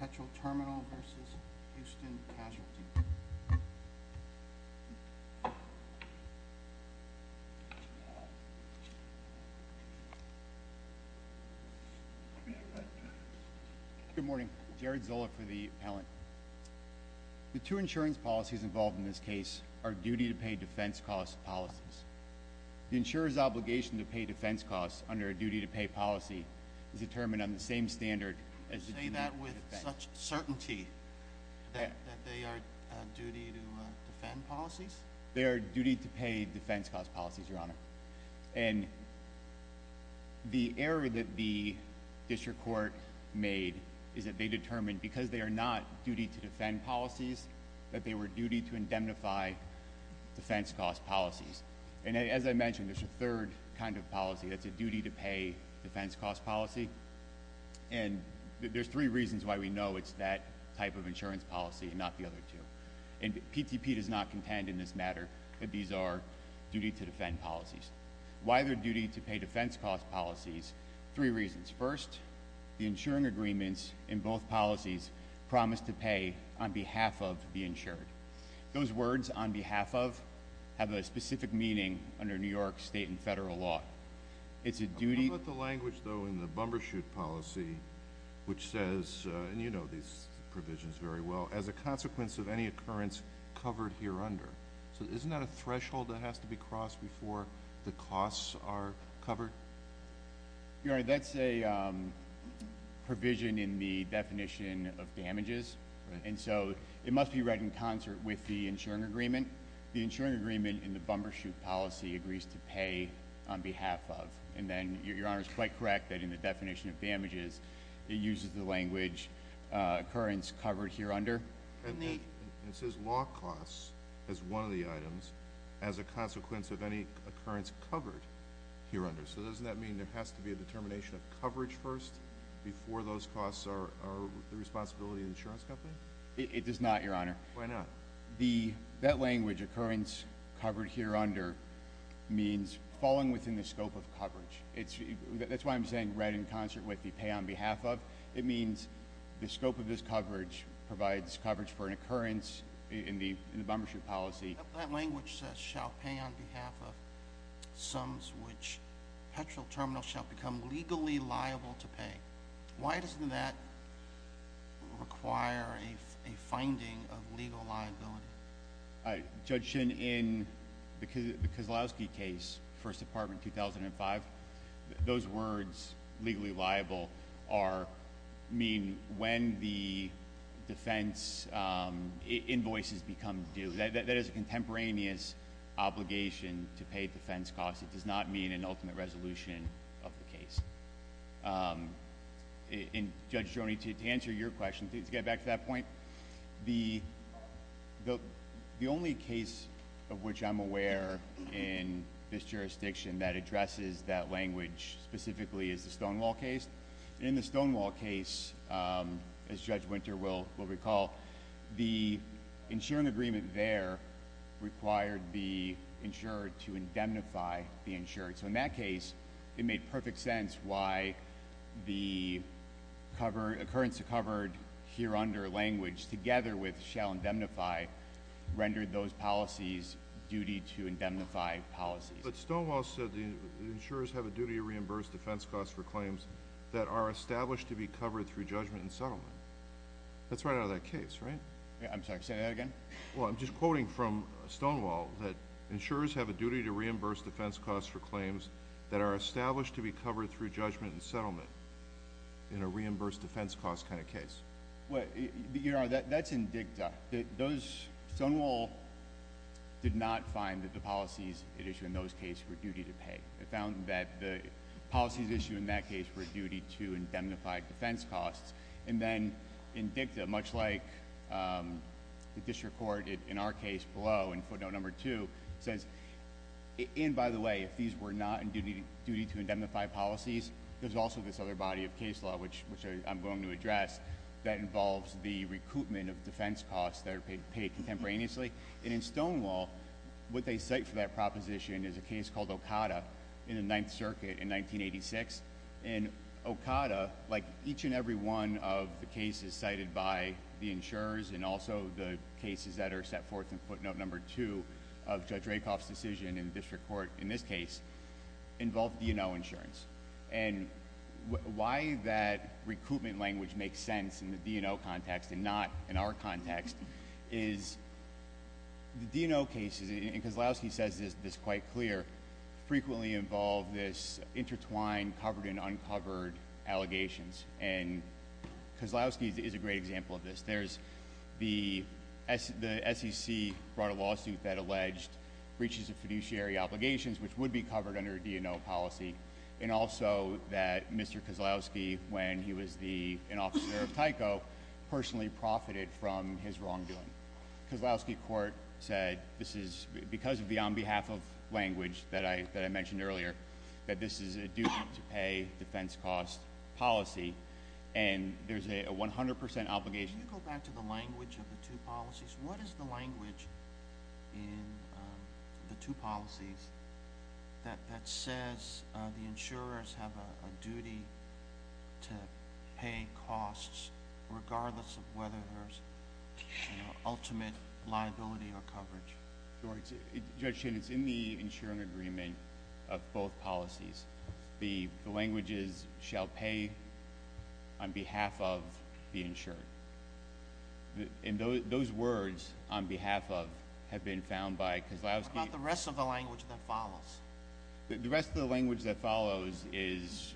Petroterminal versus Houston Casualty. Good morning. Jared Zola for the appellant. The two insurance policies involved in this case are duty to pay defense costs policies. The insurer's obligation to pay defense costs under a duty to pay policy is determined on the same standard. You say that with such certainty that they are duty to defend policies? They are duty to pay defense costs policies, Your Honor. And the error that the district court made is that they determined because they are not duty to defend policies, that they were duty to indemnify defense costs policies. And as I mentioned, there's a third kind of policy that's a duty to pay defense costs policy. And there's three reasons why we know it's that type of insurance policy and not the other two. And PTP does not contend in this matter that these are duty to defend policies. Why they're duty to pay defense costs policies, three reasons. First, the insuring agreements in both policies promise to pay on behalf of the insured. Those words, on behalf of, have a specific meaning under New York state and federal law. It's a duty- What about the language, though, in the bumbershoot policy which says, and you know these provisions very well, as a consequence of any occurrence covered here under. So isn't that a threshold that has to be crossed before the costs are covered? Your Honor, that's a provision in the definition of damages. And so it must be read in concert with the insuring agreement. The insuring agreement in the bumbershoot policy agrees to pay on behalf of. And then your Honor is quite correct that in the definition of damages, it uses the language, occurrence covered here under. And it says law costs as one of the items as a consequence of any occurrence covered here under. So doesn't that mean there has to be a determination of coverage first before those costs are the responsibility of the insurance company? It does not, your Honor. Why not? That language, occurrence covered here under, means falling within the scope of coverage. That's why I'm saying read in concert with, you pay on behalf of. It means the scope of this coverage provides coverage for an occurrence in the bumbershoot policy. That language says shall pay on behalf of sums which petrol terminals shall become legally liable to pay. Why doesn't that require a finding of legal liability? Judge Shinn, in the Kozlowski case, First Department, 2005, those words, legally liable, mean when the defense invoices become due. That is a contemporaneous obligation to pay defense costs. It does not mean an ultimate resolution of the case. And Judge Joni, to answer your question, to get back to that point, the only case of which I'm aware in this jurisdiction that addresses that language specifically is the Stonewall case. In the Stonewall case, as Judge Winter will recall, the insuring agreement there required the insurer to indemnify the insurer. So in that case, it made perfect sense why the occurrence covered here under language, together with shall indemnify, rendered those policies duty to indemnify policies. But Stonewall said the insurers have a duty to reimburse defense costs for claims that are established to be covered through judgment and settlement. That's right out of that case, right? I'm sorry, say that again. Well, I'm just quoting from Stonewall that insurers have a duty to reimburse defense costs for claims that are established to be covered through judgment and settlement in a reimbursed defense cost kind of case. Your Honor, that's in dicta. Stonewall did not find that the policies it issued in those cases were duty to pay. It found that the policies issued in that case were duty to indemnify defense costs. And then in dicta, much like the district court in our case below, in footnote number two, says, and by the way, if these were not in duty to indemnify policies, there's also this other body of case law, which I'm going to address, that involves the recoupment of defense costs that are paid contemporaneously. And in Stonewall, what they cite for that proposition is a case called Okada in the Ninth Circuit in 1986. And Okada, like each and every one of the cases cited by the insurers, and also the cases that are set forth in footnote number two of Judge Rakoff's decision in district court in this case, involve DNO insurance. And why that recoupment language makes sense in the DNO context and not in our context is the DNO cases, and Kozlowski says this quite clear, frequently involve this intertwined covered and uncovered allegations. And Kozlowski is a great example of this. There's the SEC brought a lawsuit that alleged breaches of fiduciary obligations, which would be covered under a DNO policy, and also that Mr. Kozlowski, when he was an officer of Tyco, personally profited from his wrongdoing. Kozlowski court said, because of the on behalf of language that I mentioned earlier, that this is a duty to pay defense cost policy, and there's a 100% obligation- What is the language of the two policies? What is the language in the two policies that says the insurers have a duty to pay costs, regardless of whether there's ultimate liability or coverage? Judge Chin, it's in the insuring agreement of both policies. The language is, shall pay on behalf of the insured. And those words, on behalf of, have been found by Kozlowski- What about the rest of the language that follows? The rest of the language that follows is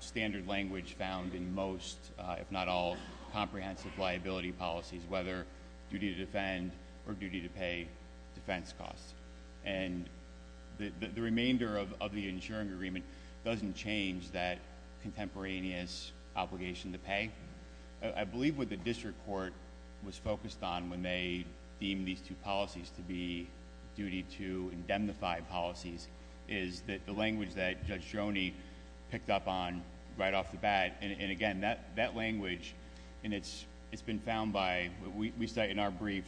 standard language found in most, if not all, comprehensive liability policies, whether duty to defend or duty to pay defense costs. And the remainder of the insuring agreement doesn't change that contemporaneous obligation to pay. I believe what the district court was focused on when they deemed these two policies to be duty to indemnify policies, is that the language that Judge Joni picked up on right off the bat. And again, that language, and it's been found by, we cite in our brief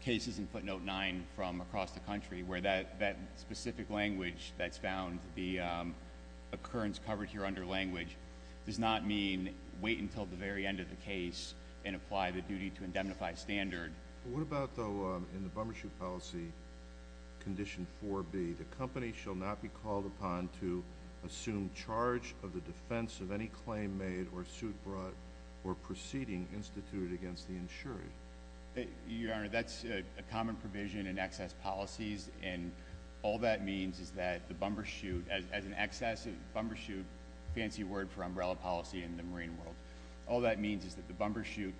cases in footnote nine from across the country, where that specific language that's found, the occurrence covered here under language, does not mean wait until the very end of the case and apply the duty to indemnify standard. What about, though, in the bummershoot policy, condition 4B, the company shall not be called upon to assume charge of the defense of any claim made or suit brought or proceeding instituted against the insurer? Your Honor, that's a common provision in excess policies, and all that means is that the bummershoot, as an excess bummershoot, fancy word for umbrella policy in the marine world, all that means is that the bummershoot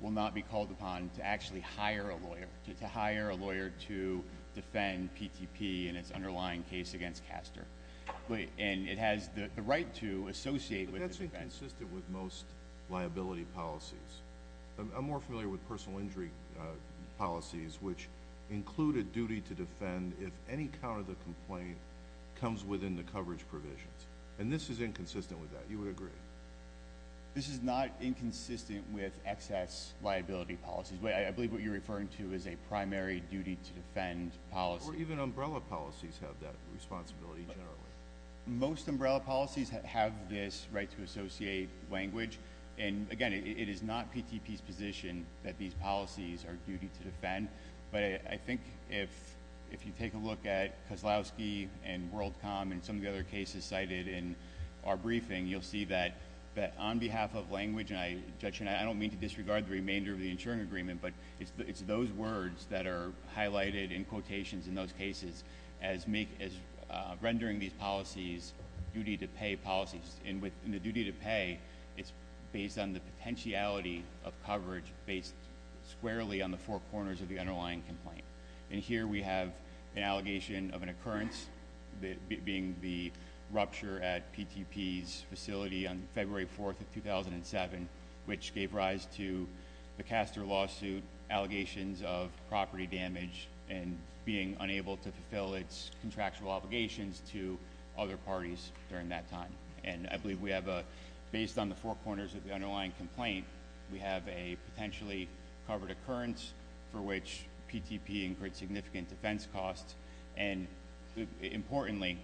will not be called upon to actually hire a lawyer, to hire a lawyer to defend PTP in its underlying case against Caster. And it has the right to associate with the defense. This is inconsistent with most liability policies. I'm more familiar with personal injury policies, which include a duty to defend if any count of the complaint comes within the coverage provisions. And this is inconsistent with that. You would agree? This is not inconsistent with excess liability policies. I believe what you're referring to is a primary duty to defend policy. Or even umbrella policies have that responsibility generally. Most umbrella policies have this right to associate language. And, again, it is not PTP's position that these policies are duty to defend. But I think if you take a look at Kozlowski and WorldCom and some of the other cases cited in our briefing, you'll see that on behalf of language, and, Judge Chen, I don't mean to disregard the remainder of the insuring agreement, but it's those words that are highlighted in quotations in those cases as rendering these policies duty to pay policies. And with the duty to pay, it's based on the potentiality of coverage based squarely on the four corners of the underlying complaint. And here we have an allegation of an occurrence, being the rupture at PTP's facility on February 4th of 2007, which gave rise to the Castor lawsuit, allegations of property damage, and being unable to fulfill its contractual obligations to other parties during that time. And I believe we have a, based on the four corners of the underlying complaint, we have a potentially covered occurrence for which PTP incurred significant defense costs, and importantly,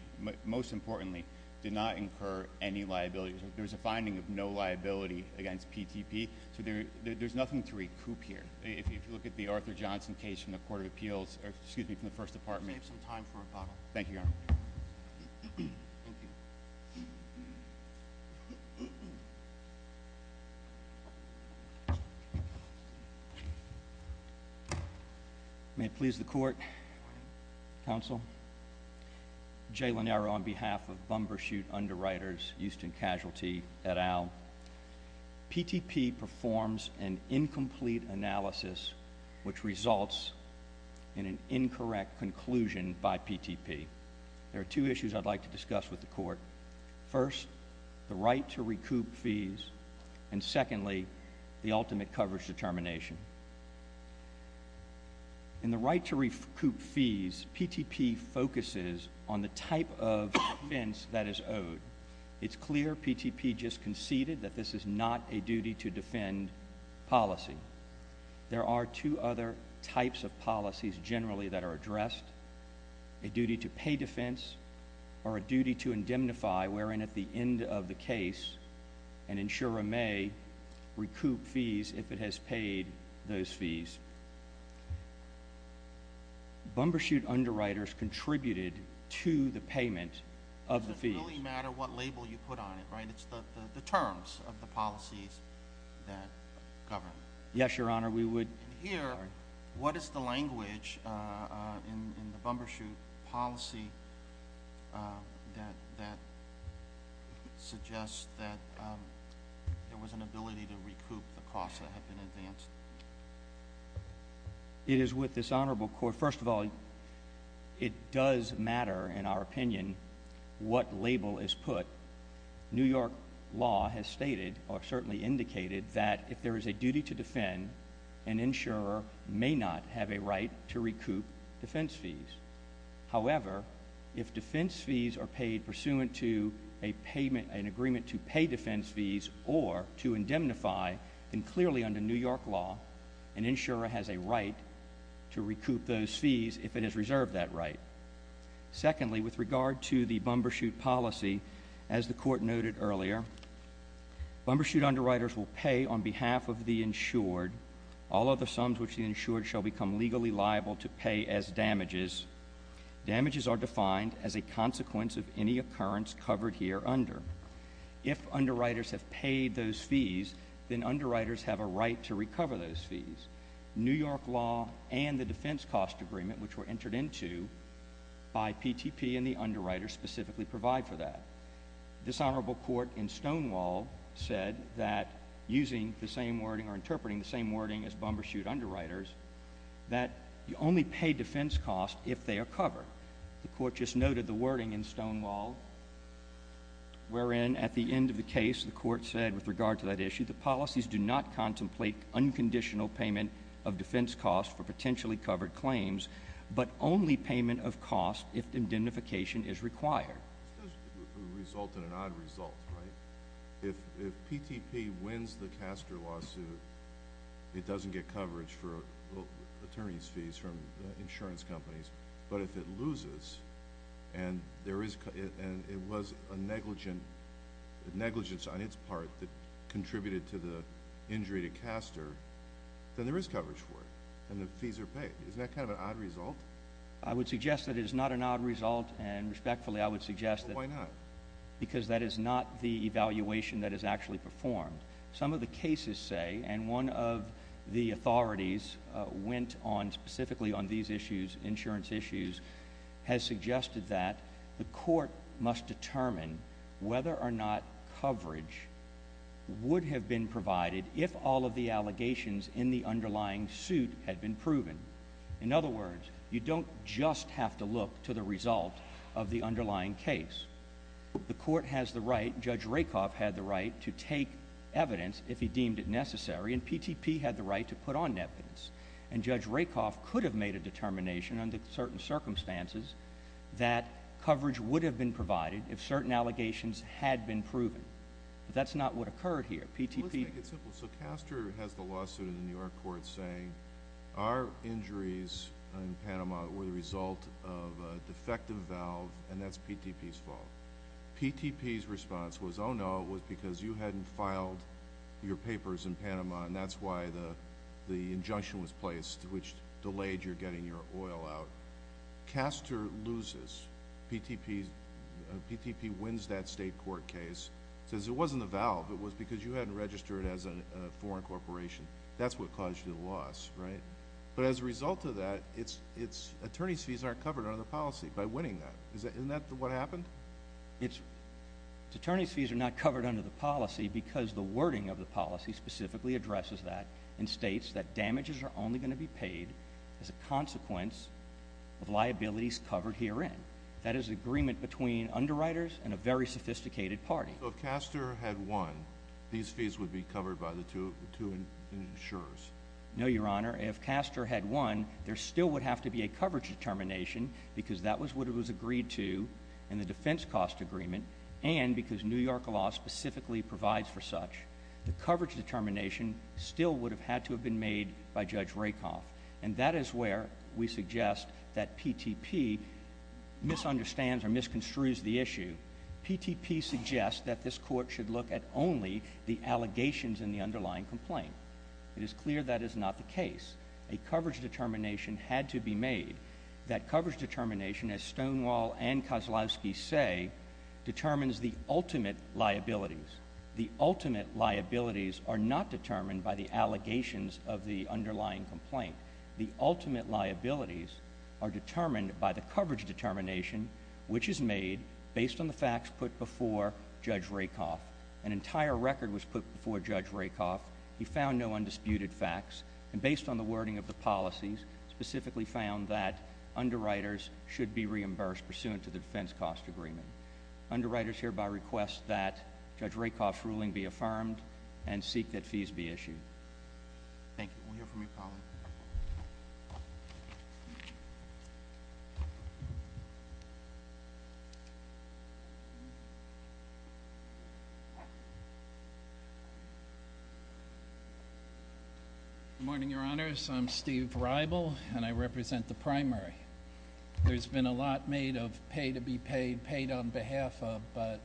most importantly, did not incur any liability. There's a finding of no liability against PTP. So there's nothing to recoup here. If you look at the Arthur Johnson case from the Court of Appeals, or excuse me, from the First Department. Save some time for a bottle. Thank you, Your Honor. May it please the Court, Counsel, Jay Lenaro on behalf of Bumbershoot Underwriters, Houston Casualty, et al. PTP performs an incomplete analysis which results in an incorrect conclusion by PTP. There are two issues I'd like to discuss with the Court. First, the right to recoup fees, and secondly, the ultimate coverage determination. In the right to recoup fees, PTP focuses on the type of offense that is owed. It's clear PTP just conceded that this is not a duty to defend policy. There are two other types of policies generally that are addressed, a duty to pay defense or a duty to indemnify, wherein at the end of the case, an insurer may recoup fees if it has paid those fees. Bumbershoot Underwriters contributed to the payment of the fees. It doesn't really matter what label you put on it, right? It's the terms of the policies that govern. Yes, Your Honor, we would. And here, what is the language in the Bumbershoot policy that suggests that there was an ability to recoup the costs that had been advanced? It is with this honorable Court, first of all, it does matter, in our opinion, what label is put. New York law has stated or certainly indicated that if there is a duty to defend, an insurer may not have a right to recoup defense fees. However, if defense fees are paid pursuant to an agreement to pay defense fees or to indemnify, then clearly under New York law, an insurer has a right to recoup those fees if it has reserved that right. Secondly, with regard to the Bumbershoot policy, as the Court noted earlier, Bumbershoot Underwriters will pay on behalf of the insured all of the sums which the insured shall become legally liable to pay as damages. Damages are defined as a consequence of any occurrence covered here under. If underwriters have paid those fees, then underwriters have a right to recover those fees. New York law and the defense cost agreement which were entered into by PTP and the underwriters specifically provide for that. This honorable Court in Stonewall said that using the same wording or interpreting the same wording as Bumbershoot Underwriters, that you only pay defense costs if they are covered. The Court just noted the wording in Stonewall wherein at the end of the case, the Court said with regard to that issue, that policies do not contemplate unconditional payment of defense costs for potentially covered claims, but only payment of costs if indemnification is required. This doesn't result in an odd result, right? If PTP wins the Castor lawsuit, it doesn't get coverage for attorneys' fees from insurance companies. But if it loses and it was a negligence on its part that contributed to the injury to Castor, then there is coverage for it and the fees are paid. Isn't that kind of an odd result? I would suggest that it is not an odd result. And respectfully, I would suggest that. Why not? Because that is not the evaluation that is actually performed. Some of the cases say, and one of the authorities went on specifically on these insurance issues, has suggested that the Court must determine whether or not coverage would have been provided if all of the allegations in the underlying suit had been proven. In other words, you don't just have to look to the result of the underlying case. The Court has the right, Judge Rakoff had the right to take evidence if he deemed it necessary, and PTP had the right to put on evidence. And Judge Rakoff could have made a determination under certain circumstances that coverage would have been provided if certain allegations had been proven. But that's not what occurred here. Let's make it simple. So Castor has the lawsuit in the New York court saying, our injuries in Panama were the result of a defective valve, and that's PTP's fault. PTP's response was, oh, no, it was because you hadn't filed your papers in Panama, and that's why the injunction was placed, which delayed your getting your oil out. Castor loses. PTP wins that state court case, says it wasn't the valve. It was because you hadn't registered as a foreign corporation. That's what caused you the loss, right? But as a result of that, its attorney's fees aren't covered under the policy by winning that. Isn't that what happened? Its attorney's fees are not covered under the policy because the wording of the policy specifically addresses that and states that damages are only going to be paid as a consequence of liabilities covered herein. That is agreement between underwriters and a very sophisticated party. So if Castor had won, these fees would be covered by the two insurers? No, Your Honor. If Castor had won, there still would have to be a coverage determination because that was what it was agreed to in the defense cost agreement and because New York law specifically provides for such. The coverage determination still would have had to have been made by Judge Rakoff, and that is where we suggest that PTP misunderstands or misconstrues the issue. PTP suggests that this court should look at only the allegations in the underlying complaint. It is clear that is not the case. A coverage determination had to be made. That coverage determination, as Stonewall and Kozlowski say, determines the ultimate liabilities. The ultimate liabilities are not determined by the allegations of the underlying complaint. The ultimate liabilities are determined by the coverage determination which is made based on the facts put before Judge Rakoff. An entire record was put before Judge Rakoff. He found no undisputed facts, and based on the wording of the policies, specifically found that underwriters should be reimbursed pursuant to the defense cost agreement. Underwriters hereby request that Judge Rakoff's ruling be affirmed and seek that fees be issued. Thank you. We'll hear from you, Colin. Good morning, Your Honors. I'm Steve Reibel, and I represent the primary. There's been a lot made of pay to be paid, paid on behalf of, but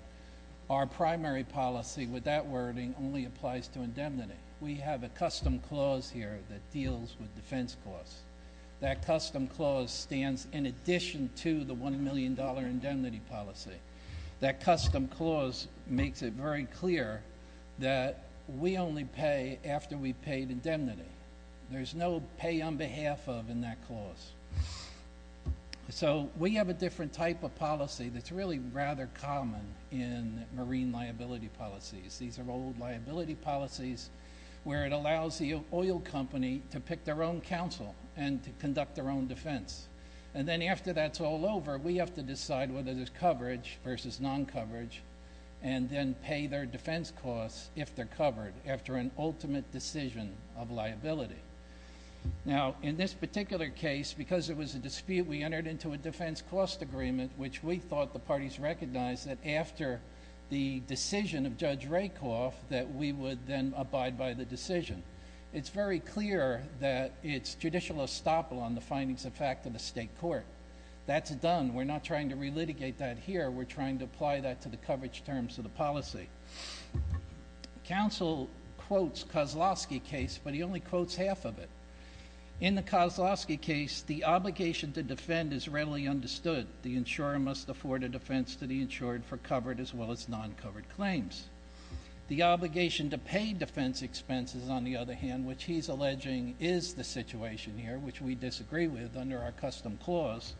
our primary policy with that wording only applies to indemnity. We have a custom clause here that deals with defense costs. That custom clause stands in addition to the $1 million indemnity policy. That custom clause makes it very clear that we only pay after we've paid indemnity. There's no pay on behalf of in that clause. So we have a different type of policy that's really rather common in marine liability policies. These are old liability policies where it allows the oil company to pick their own counsel and to conduct their own defense. And then after that's all over, we have to decide whether there's coverage versus non-coverage and then pay their defense costs if they're covered after an ultimate decision of liability. Now, in this particular case, because it was a dispute, we entered into a defense cost agreement, which we thought the parties recognized that after the decision of Judge Rakoff that we would then abide by the decision. It's very clear that it's judicial estoppel on the findings of fact of the state court. That's done. We're not trying to relitigate that here. We're trying to apply that to the coverage terms of the policy. Counsel quotes Kozlowski case, but he only quotes half of it. In the Kozlowski case, the obligation to defend is readily understood. The insurer must afford a defense to the insured for covered as well as non-covered claims. The obligation to pay defense expenses, on the other hand, which he's alleging is the situation here, which we disagree with under our custom clause,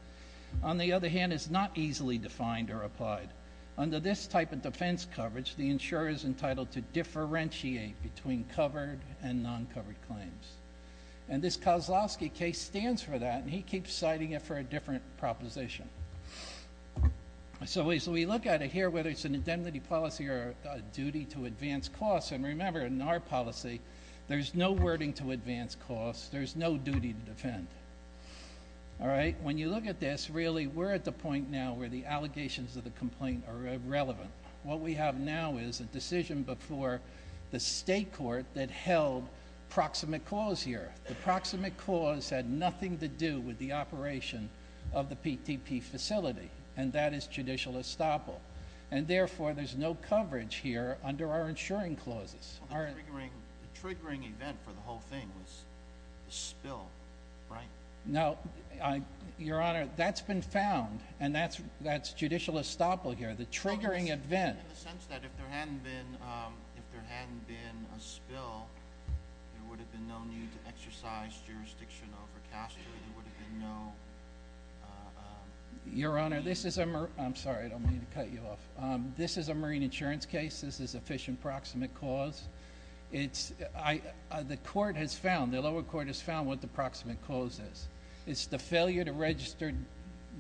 on the other hand, is not easily defined or applied. Under this type of defense coverage, the insurer is entitled to differentiate between covered and non-covered claims. And this Kozlowski case stands for that, and he keeps citing it for a different proposition. So we look at it here, whether it's an indemnity policy or a duty to advance costs, and remember, in our policy, there's no wording to advance costs. There's no duty to defend. All right? When you look at this, really, we're at the point now where the allegations of the complaint are irrelevant. What we have now is a decision before the state court that held proximate clause here. The proximate clause had nothing to do with the operation of the PTP facility, and that is judicial estoppel. And therefore, there's no coverage here under our insuring clauses. The triggering event for the whole thing was the spill, right? No. Your Honor, that's been found, and that's judicial estoppel here, the triggering event. In the sense that if there hadn't been a spill, there would have been no need to exercise jurisdiction over caster. There would have been no need. Your Honor, this is a marine insurance case. This is a fish and proximate clause. The court has found, the lower court has found what the proximate clause is. It's the failure to register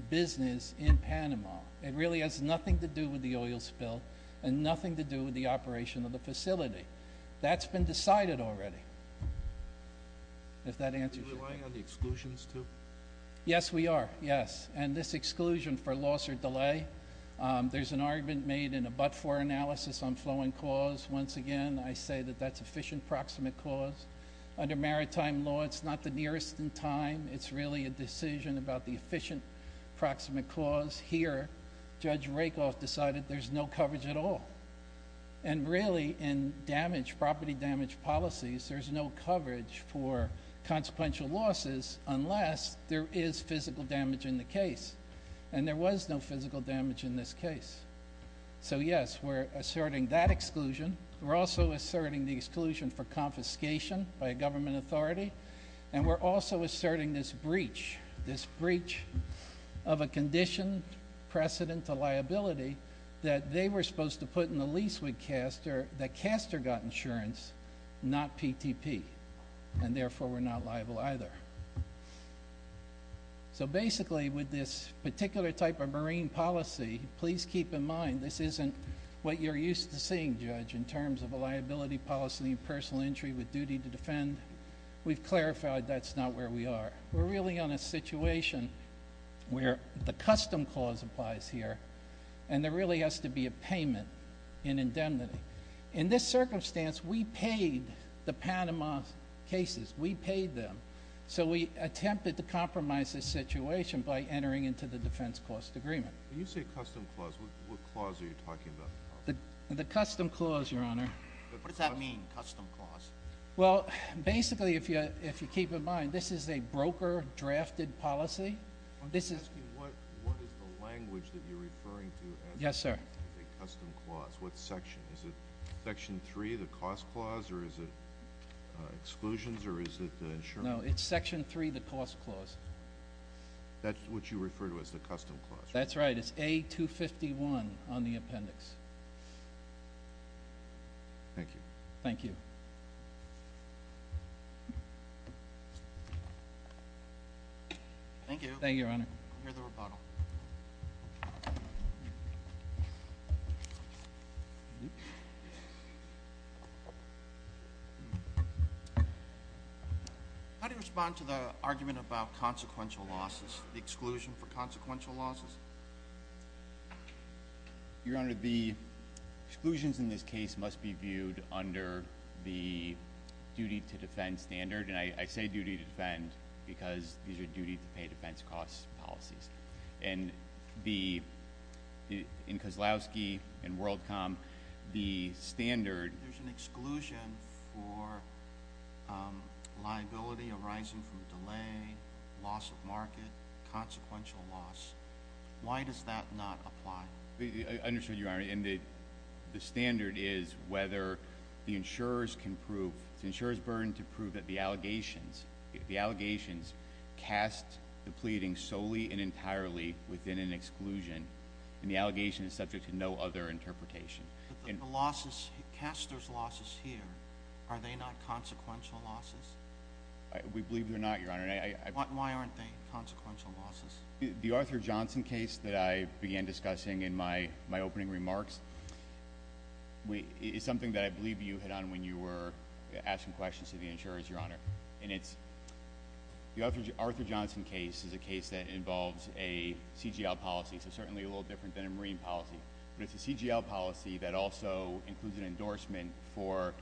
business in Panama. It really has nothing to do with the oil spill and nothing to do with the operation of the facility. That's been decided already, if that answers your question. Are you relying on the exclusions, too? Yes, we are, yes, and this exclusion for loss or delay, there's an argument made in a but-for analysis on flow and cause. Once again, I say that that's a fish and proximate clause. Under maritime law, it's not the nearest in time. It's really a decision about the efficient proximate clause. Here, Judge Rakoff decided there's no coverage at all. And really, in property damage policies, there's no coverage for consequential losses unless there is physical damage in the case. And there was no physical damage in this case. So, yes, we're asserting that exclusion. We're also asserting the exclusion for confiscation by a government authority. And we're also asserting this breach, this breach of a condition, precedent to liability, that they were supposed to put in the lease with Castor, that Castor got insurance, not PTP. And, therefore, we're not liable either. So, basically, with this particular type of marine policy, please keep in mind this isn't what you're used to seeing, Judge, in terms of a liability policy and personal injury with duty to defend. We've clarified that's not where we are. We're really on a situation where the custom clause applies here, and there really has to be a payment in indemnity. In this circumstance, we paid the Panama cases. We paid them. So we attempted to compromise this situation by entering into the defense cost agreement. When you say custom clause, what clause are you talking about? The custom clause, Your Honor. What does that mean, custom clause? Well, basically, if you keep in mind, this is a broker-drafted policy. I'm asking what is the language that you're referring to as a custom clause. What section? Is it Section 3, the cost clause, or is it exclusions, or is it the insurance clause? No, it's Section 3, the cost clause. That's what you refer to as the custom clause? That's right. It's A251 on the appendix. Thank you. Thank you. Thank you, Your Honor. I hear the rebuttal. How do you respond to the argument about consequential losses, the exclusion for consequential losses? Your Honor, the exclusions in this case must be viewed under the duty to defend standard. I say duty to defend because these are duty-to-pay defense cost policies. In Kozlowski and WorldCom, the standard— There's an exclusion for liability arising from delay, loss of market, consequential loss. Why does that not apply? I understand, Your Honor. The standard is whether the insurers can prove—the insurers' burden to prove that the allegations cast the pleading solely and entirely within an exclusion, and the allegation is subject to no other interpretation. But the losses—Castor's losses here, are they not consequential losses? We believe they're not, Your Honor. Why aren't they consequential losses? The Arthur Johnson case that I began discussing in my opening remarks is something that I believe you hit on when you were asking questions to the insurers, Your Honor. And it's—the Arthur Johnson case is a case that involves a CGL policy, so certainly a little different than a marine policy. But it's a CGL policy that also includes an endorsement for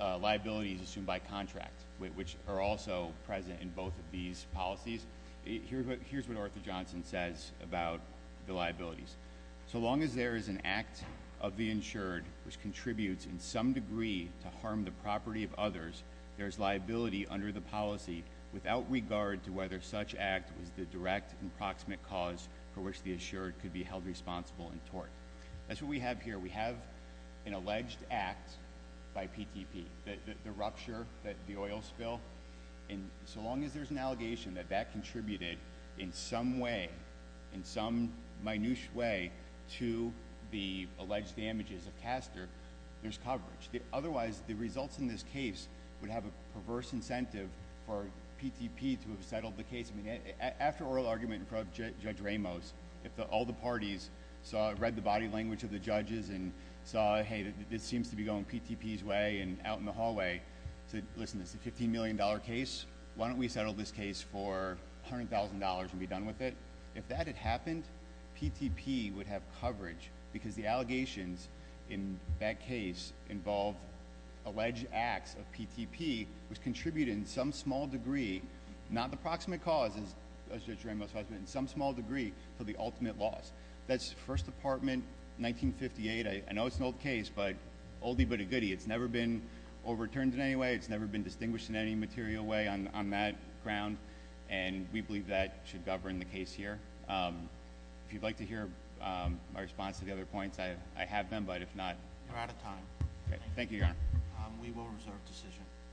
liabilities assumed by contract, which are also present in both of these policies. Here's what Arthur Johnson says about the liabilities. So long as there is an act of the insured which contributes in some degree to harm the property of others, there is liability under the policy without regard to whether such act was the direct and proximate cause for which the insured could be held responsible and tort. That's what we have here. We have an alleged act by PTP, the rupture, the oil spill. And so long as there's an allegation that that contributed in some way, in some minutiae way, to the alleged damages of Castor, there's coverage. Otherwise, the results in this case would have a perverse incentive for PTP to have settled the case. I mean, after oral argument in front of Judge Ramos, if all the parties read the body language of the judges and saw, hey, this seems to be going PTP's way and out in the hallway, said, listen, it's a $15 million case, why don't we settle this case for $100,000 and be done with it? If that had happened, PTP would have coverage because the allegations in that case involved alleged acts of PTP which contributed in some small degree, not the proximate cause, as Judge Ramos has mentioned, some small degree to the ultimate loss. That's First Department, 1958. I know it's an old case, but oldie but a goodie. It's never been overturned in any way. It's never been distinguished in any material way on that ground. And we believe that should govern the case here. If you'd like to hear my response to the other points, I have them. But if not- You're out of time. Thank you, Your Honor. We will reserve decision.